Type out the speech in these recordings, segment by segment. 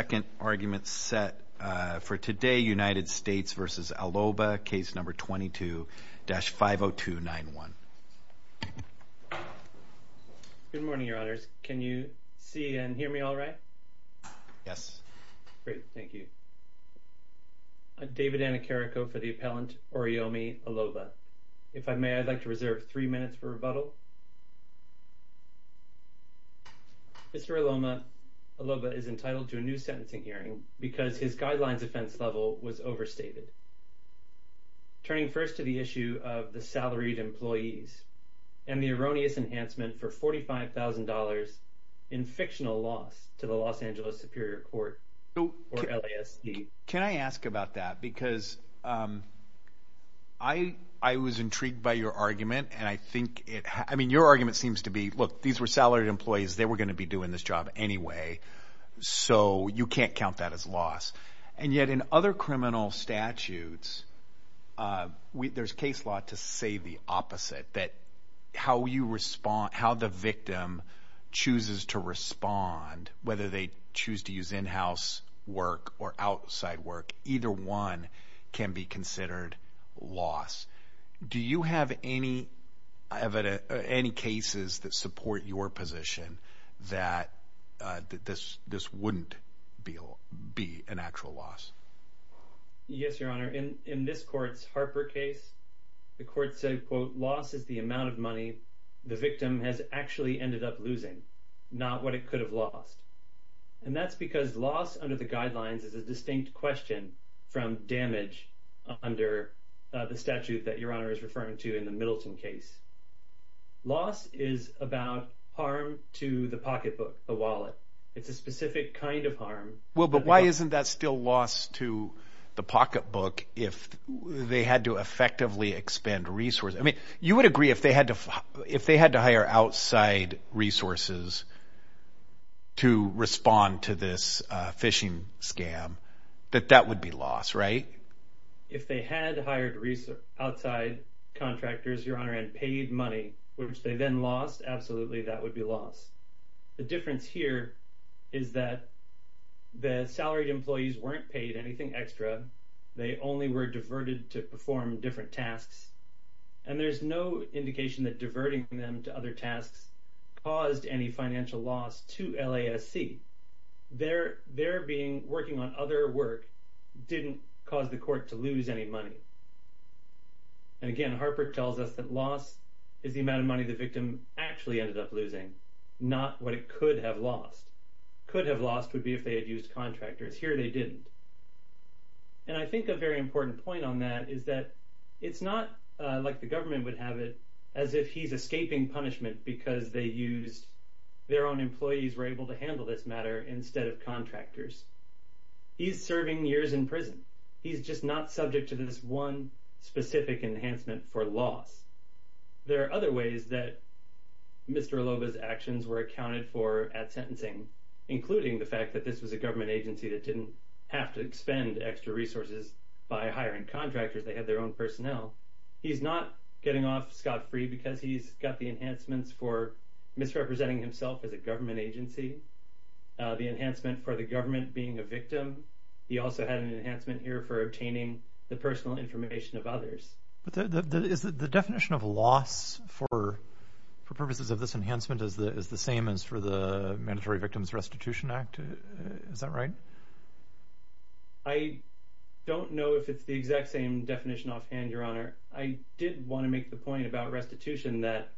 Second argument set for today, United States v. Aloba, case number 22-50291. Good morning, your honors. Can you see and hear me all right? Yes. Great, thank you. I'm David Anacarico for the appellant Oriyomi Aloba. If I may, I'd like to reserve three minutes for rebuttal. Mr. Aloba is entitled to a new sentencing hearing because his guidelines offense level was overstated, turning first to the issue of the salaried employees and the erroneous enhancement for $45,000 in fictional loss to the Los Angeles Superior Court, or LASD. Can I ask about that? Because I was intrigued by your argument. I mean, your argument seems to be, look, these were salaried employees. They were going to be doing this job anyway, so you can't count that as loss. And yet in other criminal statutes, there's case law to say the opposite, that how the victim chooses to respond, whether they choose to use in-house work or outside work, either one can be considered loss. Do you have any cases that support your position that this wouldn't be an actual loss? Yes, Your Honor. In this court's Harper case, the court said, quote, loss is the amount of money the victim has actually ended up losing, not what it could have lost. And that's because loss under the guidelines is a distinct question from damage under the statute that Your Honor is referring to in the Middleton case. Loss is about harm to the pocketbook, the wallet. It's a specific kind of harm. Well, but why isn't that still loss to the pocketbook if they had to effectively expend resources? I mean, you would agree if they had to hire outside resources to respond to this phishing scam, that that would be loss, right? If they had hired outside contractors, Your Honor, and paid money, which they then lost, absolutely that would be loss. The difference here is that the salaried employees weren't paid anything extra. They only were diverted to perform different tasks. And there's no indication that diverting them to other tasks caused any financial loss to LASC. Their working on other work didn't cause the court to lose any money. And again, Harper tells us that loss is the amount of money the victim actually ended up losing, not what it could have lost. Could have lost would be if they had used contractors. Here they didn't. And I think a very important point on that is that it's not like the government would have it as if he's escaping punishment because their own employees were able to handle this matter instead of contractors. He's serving years in prison. He's just not subject to this one specific enhancement for loss. There are other ways that Mr. Aloba's actions were accounted for at sentencing, including the fact that this was a government agency that didn't have to expend extra resources by hiring contractors. They had their own personnel. He's not getting off scot-free because he's got the enhancements for misrepresenting himself as a government agency, the enhancement for the government being a victim. He also had an enhancement here for obtaining the personal information of others. But the definition of loss for purposes of this enhancement is the same as for the Mandatory Victims Restitution Act. Is that right? I don't know if it's the exact same definition offhand, Your Honor. I did want to make the point about restitution that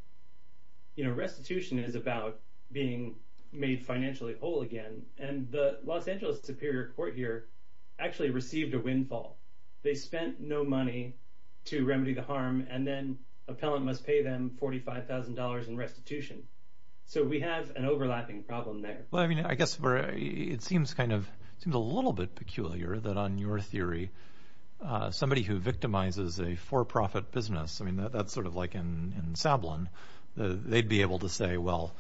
restitution is about being made financially whole again. And the Los Angeles Superior Court here actually received a windfall. They spent no money to remedy the harm, and then appellant must pay them $45,000 in restitution. So we have an overlapping problem there. I guess it seems a little bit peculiar that on your theory, somebody who victimizes a for-profit business, that's sort of like in Sablon, they'd be able to say, well,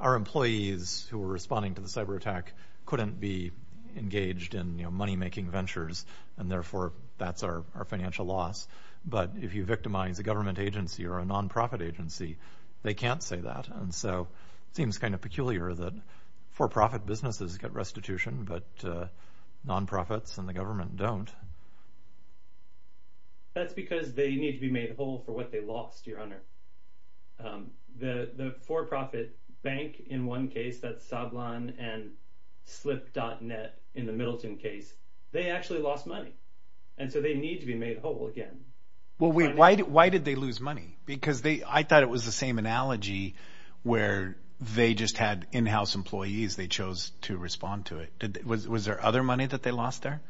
our employees who were responding to the cyber attack couldn't be engaged in money-making ventures, and therefore that's our financial loss. But if you victimize a government agency or a nonprofit agency, they can't say that. And so it seems kind of peculiar that for-profit businesses get restitution, but nonprofits and the government don't. That's because they need to be made whole for what they lost, Your Honor. The for-profit bank in one case, that's Sablon, and Slip.net in the Middleton case, they actually lost money. And so they need to be made whole again. Why did they lose money? Because I thought it was the same analogy where they just had in-house employees. They chose to respond to it. Was there other money that they lost there?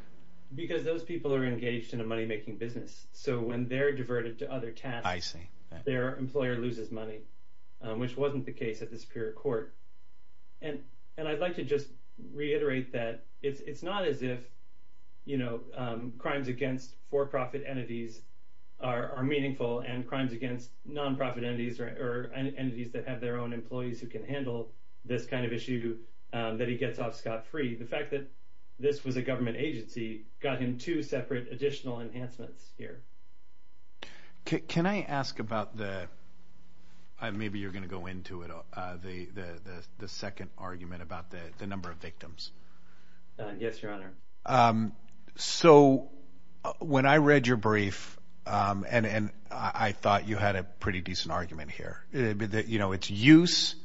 Because those people are engaged in a money-making business. So when they're diverted to other tasks, their employer loses money, which wasn't the case at the Superior Court. And I'd like to just reiterate that it's not as if crimes against for-profit entities are meaningful and crimes against nonprofit entities or entities that have their own employees who can handle this kind of issue that he gets off scot-free. The fact that this was a government agency got him two separate additional enhancements here. Can I ask about the – maybe you're going to go into it – the second argument about the number of victims? Yes, Your Honor. So when I read your brief, and I thought you had a pretty decent argument here, it's use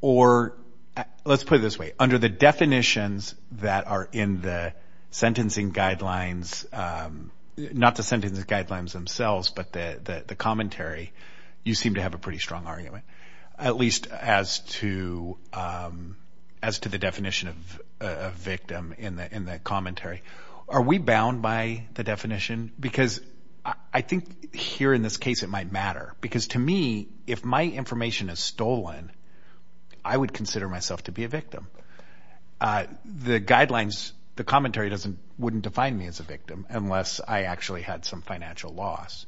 or – let's put it this way. Under the definitions that are in the sentencing guidelines – not the sentencing guidelines themselves, but the commentary, you seem to have a pretty strong argument, at least as to the definition of victim in the commentary. Are we bound by the definition? Because I think here in this case it might matter. Because to me, if my information is stolen, I would consider myself to be a victim. The guidelines – the commentary wouldn't define me as a victim unless I actually had some financial loss.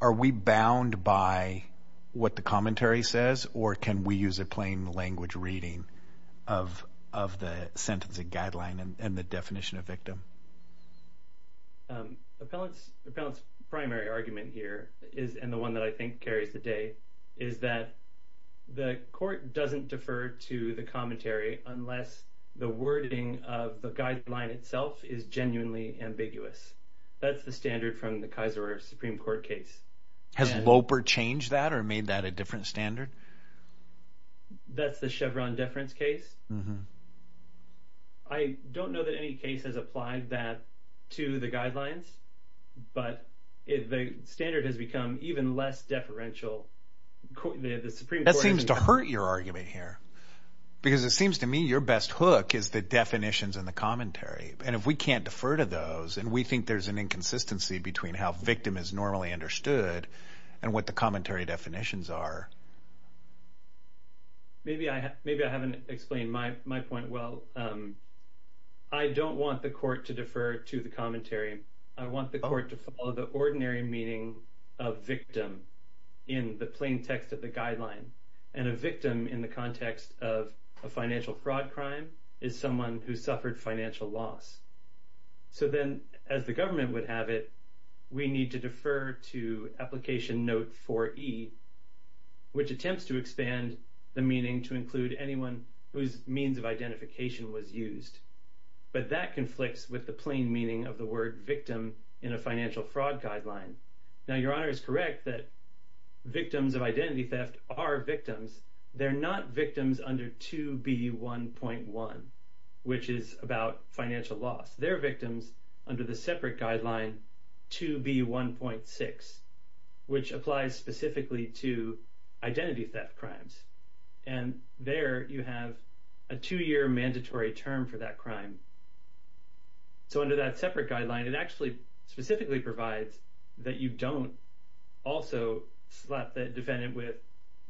Are we bound by what the commentary says, or can we use a plain language reading of the sentencing guideline and the definition of victim? Appellant's primary argument here is – and the one that I think carries the day – is that the court doesn't defer to the commentary unless the wording of the guideline itself is genuinely ambiguous. That's the standard from the Kaiser Supreme Court case. Has Loper changed that or made that a different standard? That's the Chevron deference case? I don't know that any case has applied that to the guidelines, but the standard has become even less deferential. That seems to hurt your argument here because it seems to me your best hook is the definitions and the commentary. And if we can't defer to those and we think there's an inconsistency between how victim is normally understood and what the commentary definitions are… Maybe I haven't explained my point well. I don't want the court to defer to the commentary. I want the court to follow the ordinary meaning of victim in the plain text of the guideline. And a victim in the context of a financial fraud crime is someone who suffered financial loss. So then, as the government would have it, we need to defer to Application Note 4E, which attempts to expand the meaning to include anyone whose means of identification was used. But that conflicts with the plain meaning of the word victim in a financial fraud guideline. Now, Your Honor is correct that victims of identity theft are victims. They're not victims under 2B1.1, which is about financial loss. They're victims under the separate guideline 2B1.6, which applies specifically to identity theft crimes. And there you have a two-year mandatory term for that crime. So under that separate guideline, it actually specifically provides that you don't also slap the defendant with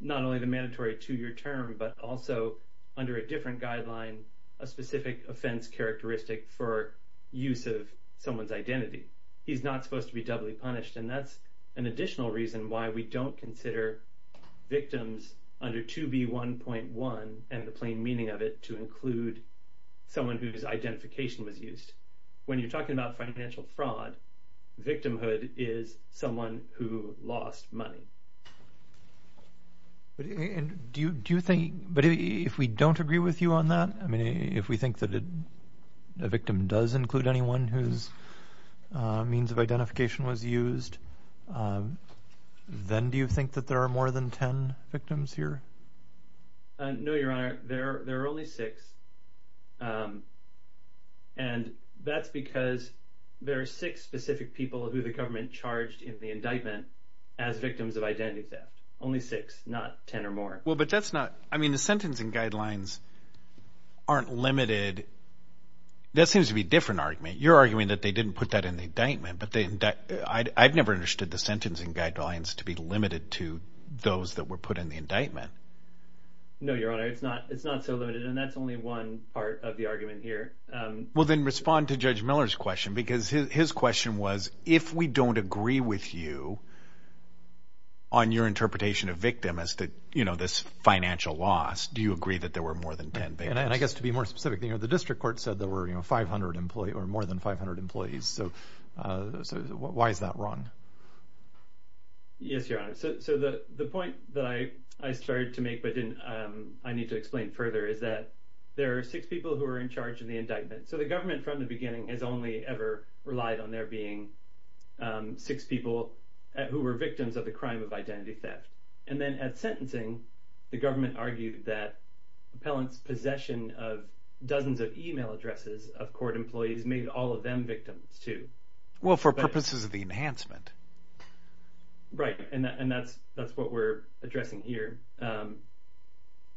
not only the mandatory two-year term, but also, under a different guideline, a specific offense characteristic for use of someone's identity. He's not supposed to be doubly punished, and that's an additional reason why we don't consider victims under 2B1.1 and the plain meaning of it to include someone whose identification was used. When you're talking about financial fraud, victimhood is someone who lost money. But if we don't agree with you on that, I mean, if we think that a victim does include anyone whose means of identification was used, then do you think that there are more than 10 victims here? No, Your Honor. There are only six, and that's because there are six specific people who the government charged in the indictment as victims of identity theft. Only six, not 10 or more. Well, but that's not – I mean, the sentencing guidelines aren't limited – that seems to be a different argument. You're arguing that they didn't put that in the indictment, but I've never understood the sentencing guidelines to be limited to those that were put in the indictment. No, Your Honor. It's not so limited, and that's only one part of the argument here. Well, then respond to Judge Miller's question, because his question was, if we don't agree with you on your interpretation of victim as this financial loss, do you agree that there were more than 10 victims? And I guess to be more specific, the district court said there were more than 500 employees, so why is that wrong? Yes, Your Honor. So the point that I started to make but I need to explain further is that there are six people who are in charge in the indictment. So the government from the beginning has only ever relied on there being six people who were victims of the crime of identity theft. And then at sentencing, the government argued that appellants' possession of dozens of email addresses of court employees made all of them victims too. Well, for purposes of the enhancement. Right, and that's what we're addressing here.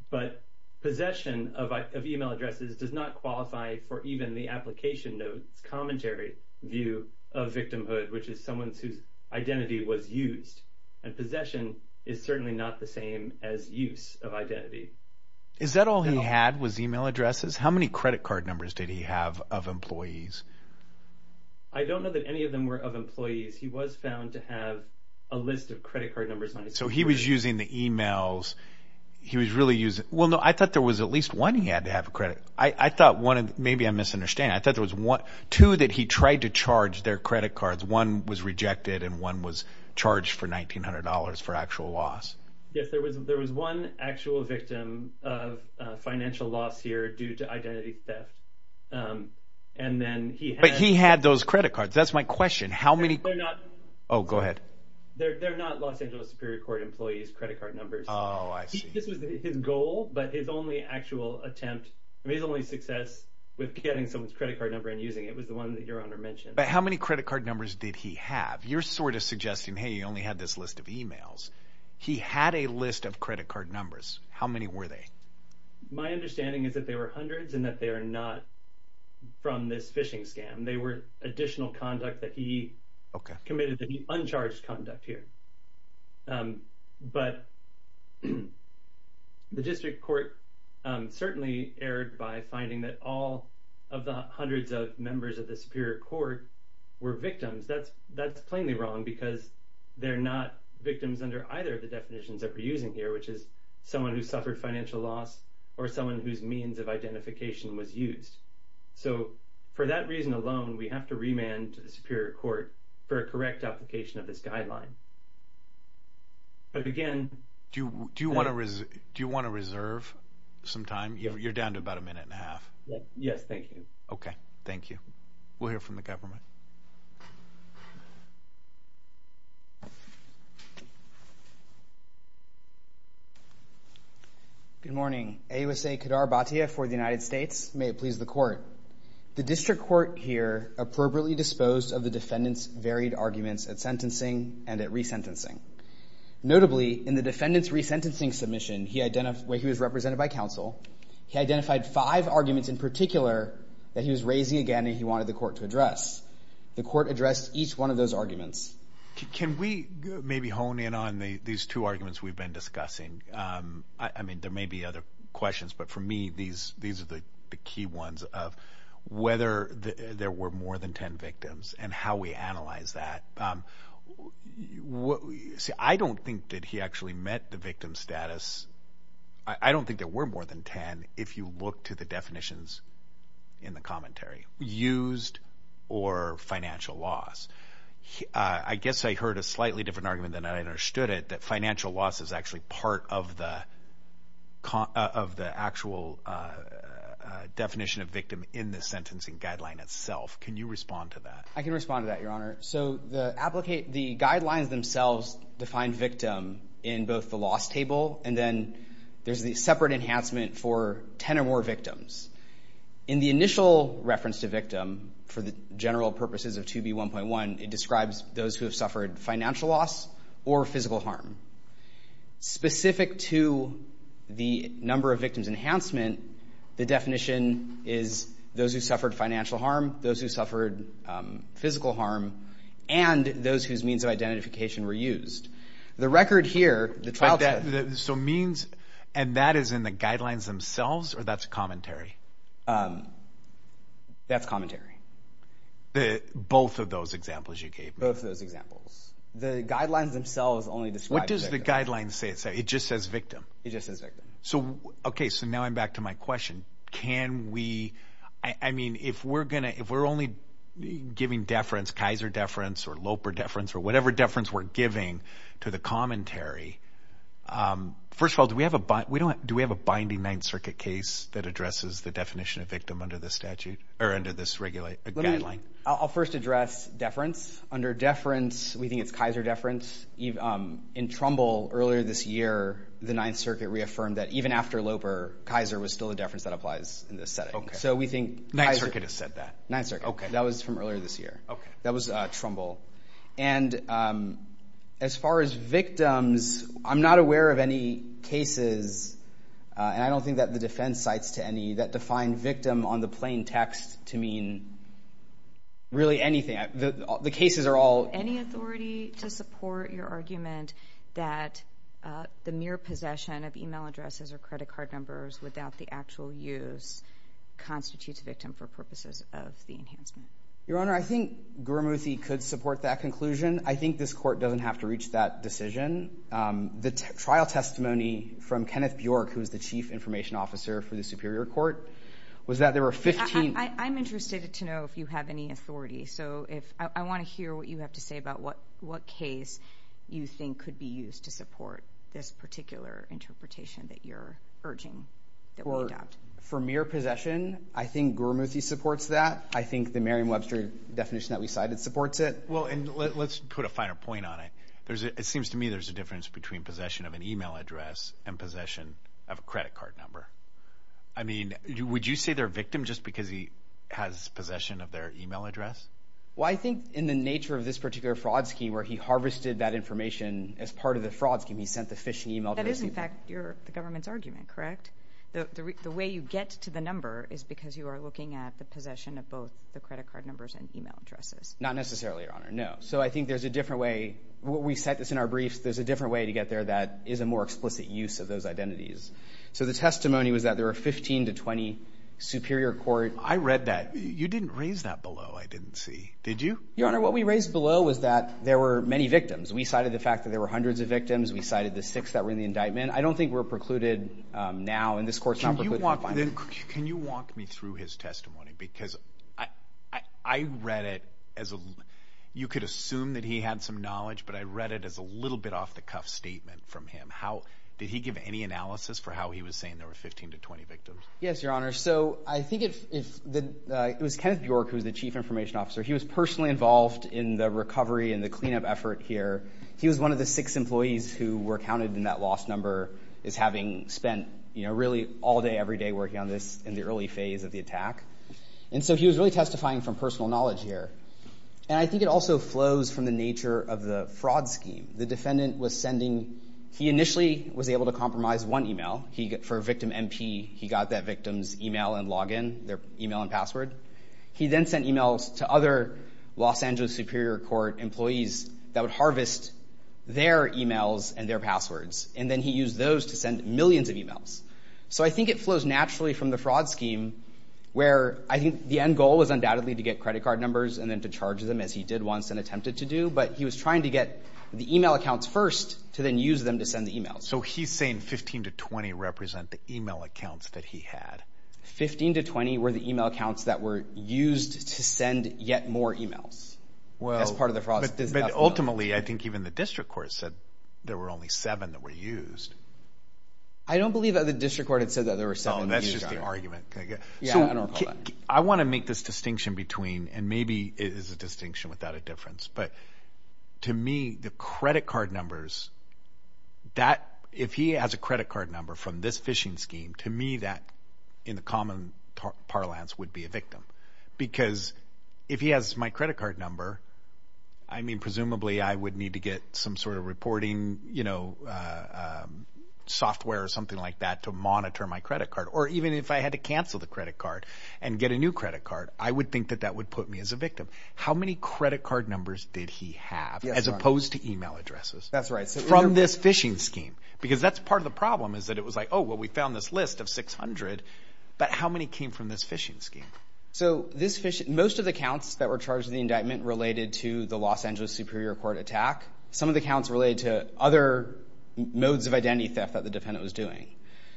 But possession of email addresses does not qualify for even the application note's commentary view of victimhood, which is someone whose identity was used. And possession is certainly not the same as use of identity. Is that all he had was email addresses? How many credit card numbers did he have of employees? I don't know that any of them were of employees. He was found to have a list of credit card numbers. So he was using the emails. I thought there was at least one he had to have a credit. Maybe I'm misunderstanding. I thought there was two that he tried to charge their credit cards. One was rejected and one was charged for $1,900 for actual loss. Yes, there was one actual victim of financial loss here due to identity theft. But he had those credit cards. That's my question. Oh, go ahead. They're not Los Angeles Superior Court employees' credit card numbers. Oh, I see. This was his goal, but his only actual attempt, his only success with getting someone's credit card number and using it was the one that Your Honor mentioned. But how many credit card numbers did he have? You're sort of suggesting, hey, he only had this list of emails. He had a list of credit card numbers. How many were they? My understanding is that they were hundreds and that they are not from this phishing scam. They were additional conduct that he committed to be uncharged conduct here. But the district court certainly erred by finding that all of the hundreds of members of the Superior Court were victims. That's plainly wrong because they're not victims under either of the definitions that we're using here, which is someone who suffered financial loss or someone whose means of identification was used. So for that reason alone, we have to remand the Superior Court for a correct application of this guideline. But again… Do you want to reserve some time? You're down to about a minute and a half. Yes, thank you. Okay, thank you. We'll hear from the government. Good morning. AUSA Kadar Bhatia for the United States. May it please the Court. The district court here appropriately disposed of the defendant's varied arguments at sentencing and at resentencing. Notably, in the defendant's resentencing submission where he was represented by counsel, he identified five arguments in particular that he was raising again that he wanted the court to address. The court addressed each one of those arguments. Can we maybe hone in on these two arguments we've been discussing? I mean, there may be other questions, but for me, these are the key ones of whether there were more than ten victims and how we analyze that. I don't think that he actually met the victim status. I don't think there were more than ten if you look to the definitions in the commentary. Used or financial loss. I guess I heard a slightly different argument than I understood it, that financial loss is actually part of the actual definition of victim in the sentencing guideline itself. Can you respond to that? I can respond to that, Your Honor. So the guidelines themselves define victim in both the loss table and then there's the separate enhancement for ten or more victims. In the initial reference to victim, for the general purposes of 2B1.1, it describes those who have suffered financial loss or physical harm. Specific to the number of victims enhancement, the definition is those who suffered financial harm, those who suffered physical harm, and those whose means of identification were used. The record here, the trial test. So means and that is in the guidelines themselves or that's commentary? That's commentary. Both of those examples you gave me. Both of those examples. The guidelines themselves only describe victim. What does the guidelines say? It just says victim. It just says victim. Okay, so now I'm back to my question. Can we, I mean, if we're only giving deference, Kaiser deference or Loper deference or whatever deference we're giving to the commentary, first of all, do we have a binding Ninth Circuit case that addresses the definition of victim under this statute or under this guideline? I'll first address deference. Under deference, we think it's Kaiser deference. In Trumbull, earlier this year, the Ninth Circuit reaffirmed that even after Loper, Kaiser was still a deference that applies in this setting. Okay. Ninth Circuit has said that. Ninth Circuit. Okay. That was from earlier this year. Okay. That was Trumbull. And as far as victims, I'm not aware of any cases, and I don't think that the defense cites to any, that define victim on the plain text to mean really anything. The cases are all. Any authority to support your argument that the mere possession of email addresses or credit card numbers without the actual use constitutes victim for purposes of the enhancement? Your Honor, I think Guramuthi could support that conclusion. I think this court doesn't have to reach that decision. The trial testimony from Kenneth Bjork, who is the chief information officer for the Superior Court, was that there were 15. I'm interested to know if you have any authority. So I want to hear what you have to say about what case you think could be used to support this particular interpretation that you're urging that we adopt. For mere possession, I think Guramuthi supports that. I think the Merriam-Webster definition that we cited supports it. Well, and let's put a finer point on it. It seems to me there's a difference between possession of an email address and possession of a credit card number. I mean, would you say they're a victim just because he has possession of their email address? Well, I think in the nature of this particular fraud scheme where he harvested that information as part of the fraud scheme, he sent the phishing email address. That is, in fact, the government's argument, correct? The way you get to the number is because you are looking at the possession of both the credit card numbers and email addresses. Not necessarily, Your Honor. No. So I think there's a different way. We set this in our briefs. There's a different way to get there that is a more explicit use of those identities. So the testimony was that there were 15 to 20 Superior Court. I read that. You didn't raise that below, I didn't see. Did you? Your Honor, what we raised below was that there were many victims. We cited the fact that there were hundreds of victims. We cited the six that were in the indictment. And I don't think we're precluded now. And this Court's not precluded from finding them. Can you walk me through his testimony? Because I read it as a—you could assume that he had some knowledge, but I read it as a little bit off-the-cuff statement from him. Did he give any analysis for how he was saying there were 15 to 20 victims? Yes, Your Honor. So I think it was Kenneth Bjork who was the Chief Information Officer. He was personally involved in the recovery and the cleanup effort here. He was one of the six employees who were counted in that lost number as having spent, you know, really all day every day working on this in the early phase of the attack. And so he was really testifying from personal knowledge here. And I think it also flows from the nature of the fraud scheme. The defendant was sending—he initially was able to compromise one email. For victim MP, he got that victim's email and login, their email and password. He then sent emails to other Los Angeles Superior Court employees that would harvest their emails and their passwords. And then he used those to send millions of emails. So I think it flows naturally from the fraud scheme where I think the end goal was undoubtedly to get credit card numbers and then to charge them, as he did once and attempted to do. But he was trying to get the email accounts first to then use them to send the emails. So he's saying 15 to 20 represent the email accounts that he had. 15 to 20 were the email accounts that were used to send yet more emails as part of the fraud scheme. But ultimately, I think even the district court said there were only seven that were used. I don't believe that the district court had said that there were seven used. Oh, that's just the argument. Yeah, I don't recall that. I want to make this distinction between—and maybe it is a distinction without a difference. But to me, the credit card numbers, that—if he has a credit card number from this phishing scheme, to me that, in the common parlance, would be a victim. Because if he has my credit card number, I mean presumably I would need to get some sort of reporting software or something like that to monitor my credit card. Or even if I had to cancel the credit card and get a new credit card, I would think that that would put me as a victim. How many credit card numbers did he have as opposed to email addresses from this phishing scheme? Because that's part of the problem is that it was like, oh, well, we found this list of 600. But how many came from this phishing scheme? So this phishing—most of the counts that were charged in the indictment related to the Los Angeles Superior Court attack. Some of the counts related to other modes of identity theft that the defendant was doing.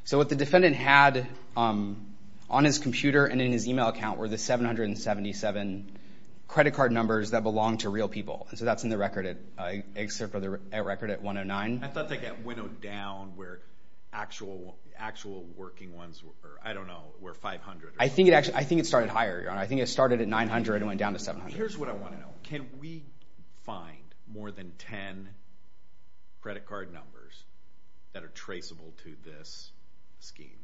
So what the defendant had on his computer and in his email account were the 777 credit card numbers that belonged to real people. And so that's in the record at—excerpt from the record at 109. I thought they got winnowed down where actual working ones were. I don't know, where 500. I think it started higher, Your Honor. I think it started at 900 and went down to 700. Here's what I want to know. Can we find more than 10 credit card numbers that are traceable to this scheme?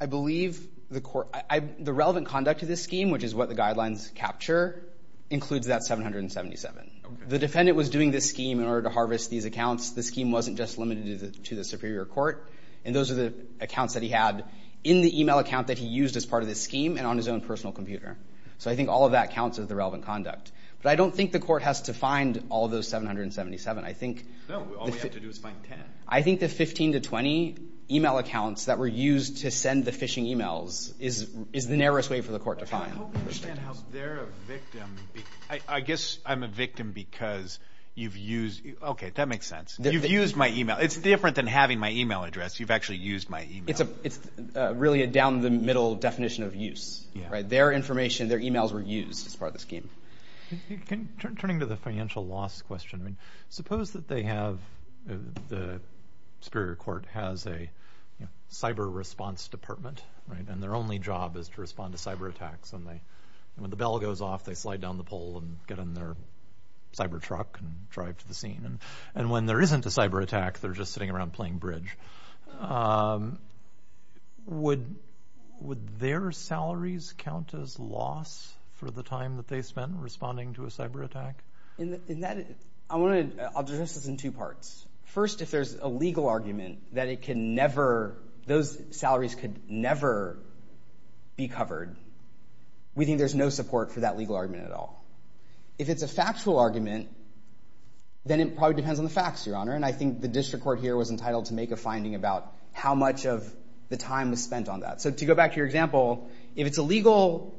I believe the court—the relevant conduct of this scheme, which is what the guidelines capture, includes that 777. The defendant was doing this scheme in order to harvest these accounts. The scheme wasn't just limited to the Superior Court. And those are the accounts that he had in the email account that he used as part of this scheme and on his own personal computer. So I think all of that counts as the relevant conduct. But I don't think the court has to find all those 777. I think— No, all we have to do is find the 777. I think the 15 to 20 email accounts that were used to send the phishing emails is the narrowest way for the court to find. I hope we understand how they're a victim. I guess I'm a victim because you've used—okay, that makes sense. You've used my email. It's different than having my email address. You've actually used my email. It's really a down-the-middle definition of use. Their information, their emails were used as part of the scheme. Turning to the financial loss question, suppose that they have—the Superior Court has a cyber response department, and their only job is to respond to cyber attacks. And when the bell goes off, they slide down the pole and get in their cyber truck and drive to the scene. And when there isn't a cyber attack, they're just sitting around playing bridge. Would their salaries count as loss for the time that they spent responding to a cyber attack? I'll address this in two parts. First, if there's a legal argument that those salaries could never be covered, we think there's no support for that legal argument at all. If it's a factual argument, then it probably depends on the facts, Your Honor, and I think the district court here was entitled to make a finding about how much of the time was spent on that. So to go back to your example, if it's a legal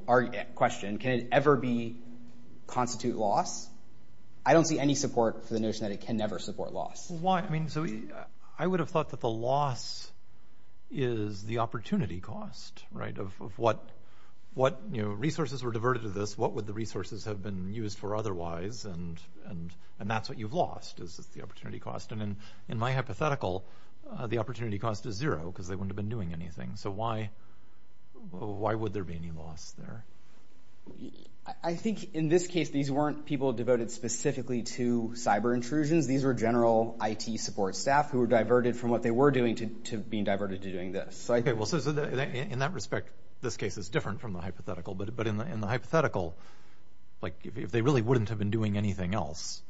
question, can it ever constitute loss? I don't see any support for the notion that it can never support loss. So I would have thought that the loss is the opportunity cost, right, of what resources were diverted to this, what would the resources have been used for otherwise, and that's what you've lost is the opportunity cost. And in my hypothetical, the opportunity cost is zero because they wouldn't have been doing anything. So why would there be any loss there? I think in this case, these weren't people devoted specifically to cyber intrusions. These were general IT support staff who were diverted from what they were doing to being diverted to doing this. Okay, well, in that respect, this case is different from the hypothetical, but in the hypothetical, if they really wouldn't have been doing anything else,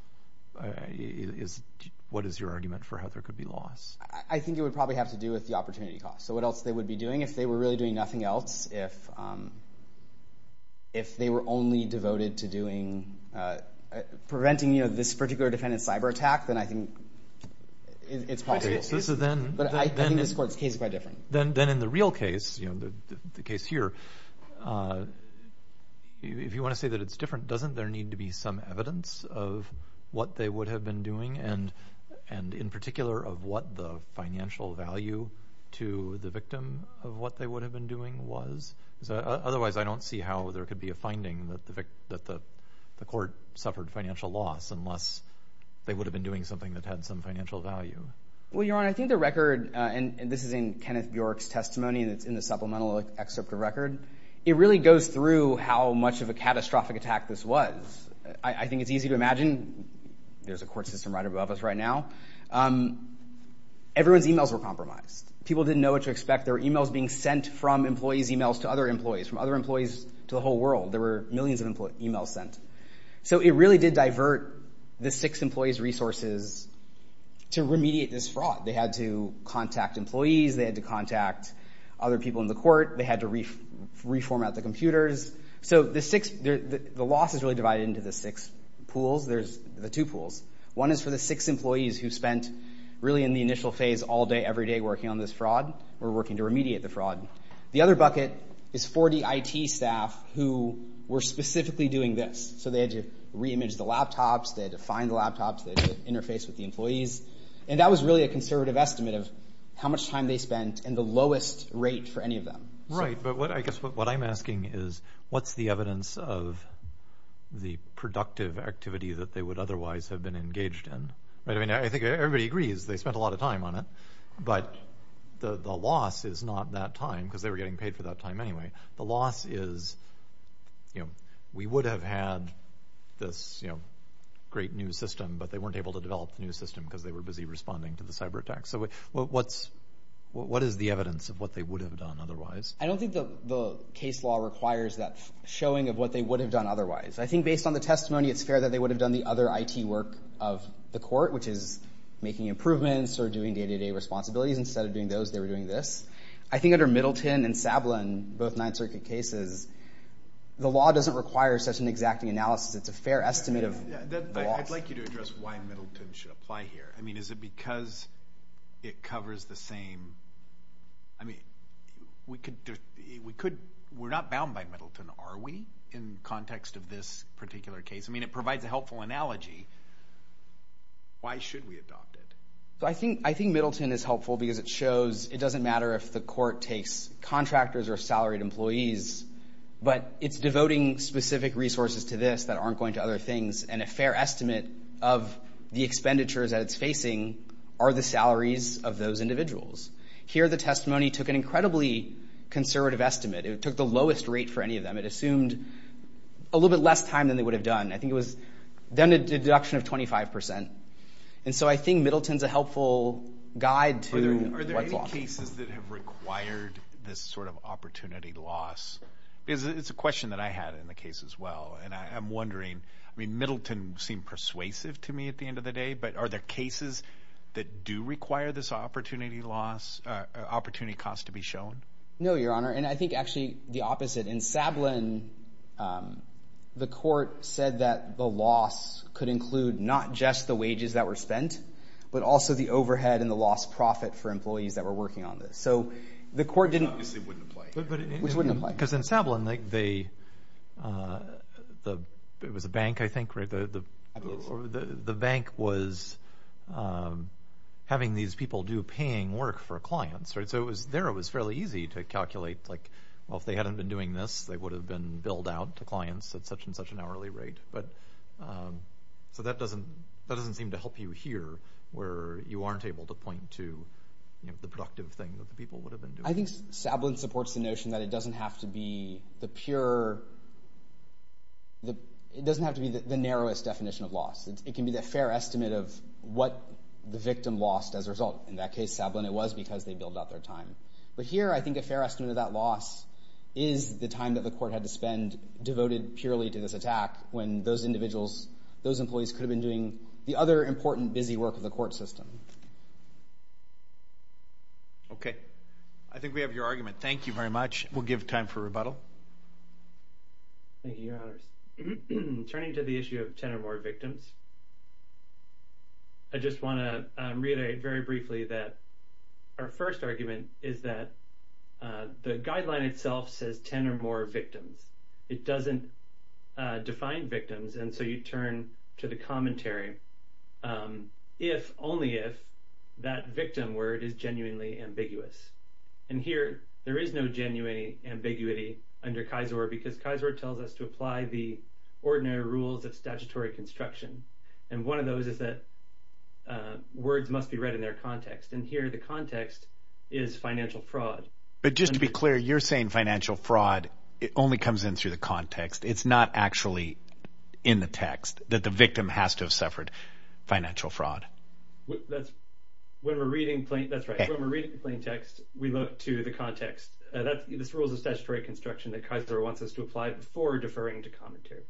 what is your argument for how there could be loss? I think it would probably have to do with the opportunity cost. So what else they would be doing? If they were really doing nothing else, if they were only devoted to preventing this particular defendant's cyber attack, then I think it's possible. But I think this court's case is quite different. Then in the real case, the case here, if you want to say that it's different, doesn't there need to be some evidence of what they would have been doing and in particular of what the financial value to the victim of what they would have been doing was? Because otherwise I don't see how there could be a finding that the court suffered financial loss unless they would have been doing something that had some financial value. Well, Your Honor, I think the record, and this is in Kenneth Bjork's testimony that's in the supplemental excerpt of record, it really goes through how much of a catastrophic attack this was. I think it's easy to imagine. There's a court system right above us right now. Everyone's emails were compromised. People didn't know what to expect. There were emails being sent from employees' emails to other employees, from other employees to the whole world. There were millions of emails sent. So it really did divert the six employees' resources to remediate this fraud. They had to contact employees. They had to contact other people in the court. They had to reformat the computers. So the loss is really divided into the six pools. There's the two pools. One is for the six employees who spent really in the initial phase all day every day working on this fraud or working to remediate the fraud. The other bucket is 40 IT staff who were specifically doing this. So they had to reimage the laptops. They had to find the laptops. They had to interface with the employees. And that was really a conservative estimate of how much time they spent and the lowest rate for any of them. Right, but I guess what I'm asking is, what's the evidence of the productive activity that they would otherwise have been engaged in? I think everybody agrees they spent a lot of time on it, but the loss is not that time because they were getting paid for that time anyway. The loss is we would have had this great new system, but they weren't able to develop the new system because they were busy responding to the cyber attacks. What is the evidence of what they would have done otherwise? I don't think the case law requires that showing of what they would have done otherwise. I think based on the testimony, it's fair that they would have done the other IT work of the court, which is making improvements or doing day-to-day responsibilities. Instead of doing those, they were doing this. I think under Middleton and Sablin, both Ninth Circuit cases, the law doesn't require such an exacting analysis. It's a fair estimate of the loss. I'd like you to address why Middleton should apply here. I mean, is it because it covers the same? I mean, we're not bound by Middleton, are we, in context of this particular case? I mean, it provides a helpful analogy. Why should we adopt it? I think Middleton is helpful because it shows it doesn't matter if the court takes contractors or salaried employees, but it's devoting specific resources to this that aren't going to other things, and a fair estimate of the expenditures that it's facing are the salaries of those individuals. Here, the testimony took an incredibly conservative estimate. It took the lowest rate for any of them. It assumed a little bit less time than they would have done. I think it was a deduction of 25%. And so I think Middleton's a helpful guide to what's lost. Are there any cases that have required this sort of opportunity loss? Because it's a question that I had in the case as well, and I'm wondering, I mean, Middleton seemed persuasive to me at the end of the day, but are there cases that do require this opportunity cost to be shown? No, Your Honor, and I think actually the opposite. In Sablin, the court said that the loss could include not just the wages that were spent, but also the overhead and the lost profit for employees that were working on this. Which obviously wouldn't apply. Because in Sablin, it was a bank, I think, right? The bank was having these people do paying work for clients, right? So there it was fairly easy to calculate, well, if they hadn't been doing this, they would have been billed out to clients at such and such an hourly rate. So that doesn't seem to help you here where you aren't able to point to the productive thing that the people would have been doing. I think Sablin supports the notion that it doesn't have to be the pure, it doesn't have to be the narrowest definition of loss. It can be the fair estimate of what the victim lost as a result. In that case, Sablin, it was because they billed out their time. But here, I think a fair estimate of that loss is the time that the court had to spend devoted purely to this attack when those individuals, those employees, could have been doing the other important busy work of the court system. Okay. I think we have your argument. Thank you very much. We'll give time for rebuttal. Thank you, Your Honors. Turning to the issue of 10 or more victims, I just want to reiterate very briefly that our first argument is that the guideline itself says 10 or more victims. It doesn't define victims, and so you turn to the commentary. If, only if, that victim word is genuinely ambiguous. And here, there is no genuine ambiguity under Kisor because Kisor tells us to apply the ordinary rules of statutory construction. And one of those is that words must be read in their context. And here, the context is financial fraud. But just to be clear, you're saying financial fraud, it only comes in through the context. It's not actually in the text that the victim has to have suffered financial fraud. That's right. When we're reading the plain text, we look to the context. This rule is a statutory construction that Kisor wants us to apply before deferring to commentary.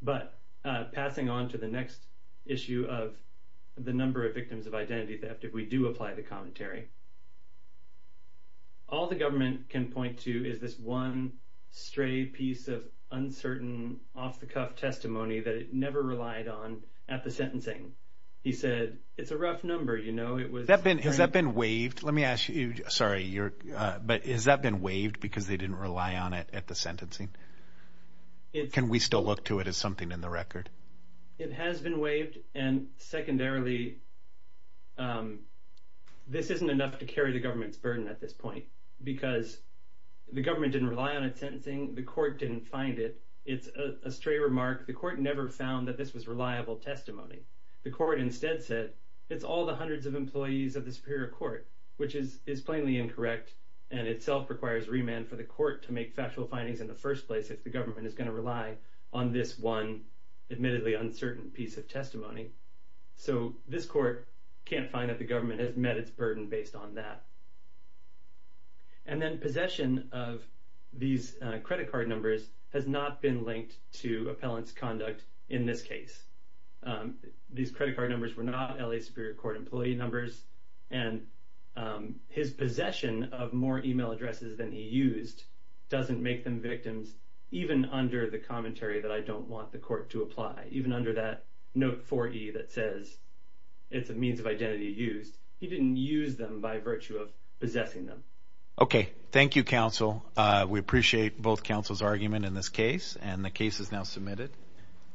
But passing on to the next issue of the number of victims of identity theft, if we do apply the commentary, all the government can point to is this one stray piece of uncertain, off-the-cuff testimony that it never relied on at the sentencing. He said, it's a rough number, you know. Has that been waived? Let me ask you, sorry, but has that been waived because they didn't rely on it at the sentencing? Can we still look to it as something in the record? It has been waived, and secondarily, this isn't enough to carry the government's burden at this point because the government didn't rely on it at sentencing, the court didn't find it. It's a stray remark. The court never found that this was reliable testimony. The court instead said, it's all the hundreds of employees of the superior court, which is plainly incorrect and itself requires remand for the court to make factual findings in the first place if the government is going to rely on this one admittedly uncertain piece of testimony. So this court can't find that the government has met its burden based on that. And then possession of these credit card numbers has not been linked to appellant's conduct in this case. These credit card numbers were not L.A. Superior Court employee numbers, and his possession of more email addresses than he used doesn't make them victims even under the commentary that I don't want the court to apply, even under that note 4E that says it's a means of identity used. He didn't use them by virtue of possessing them. Okay. Thank you, counsel. We appreciate both counsel's argument in this case, and the case is now submitted.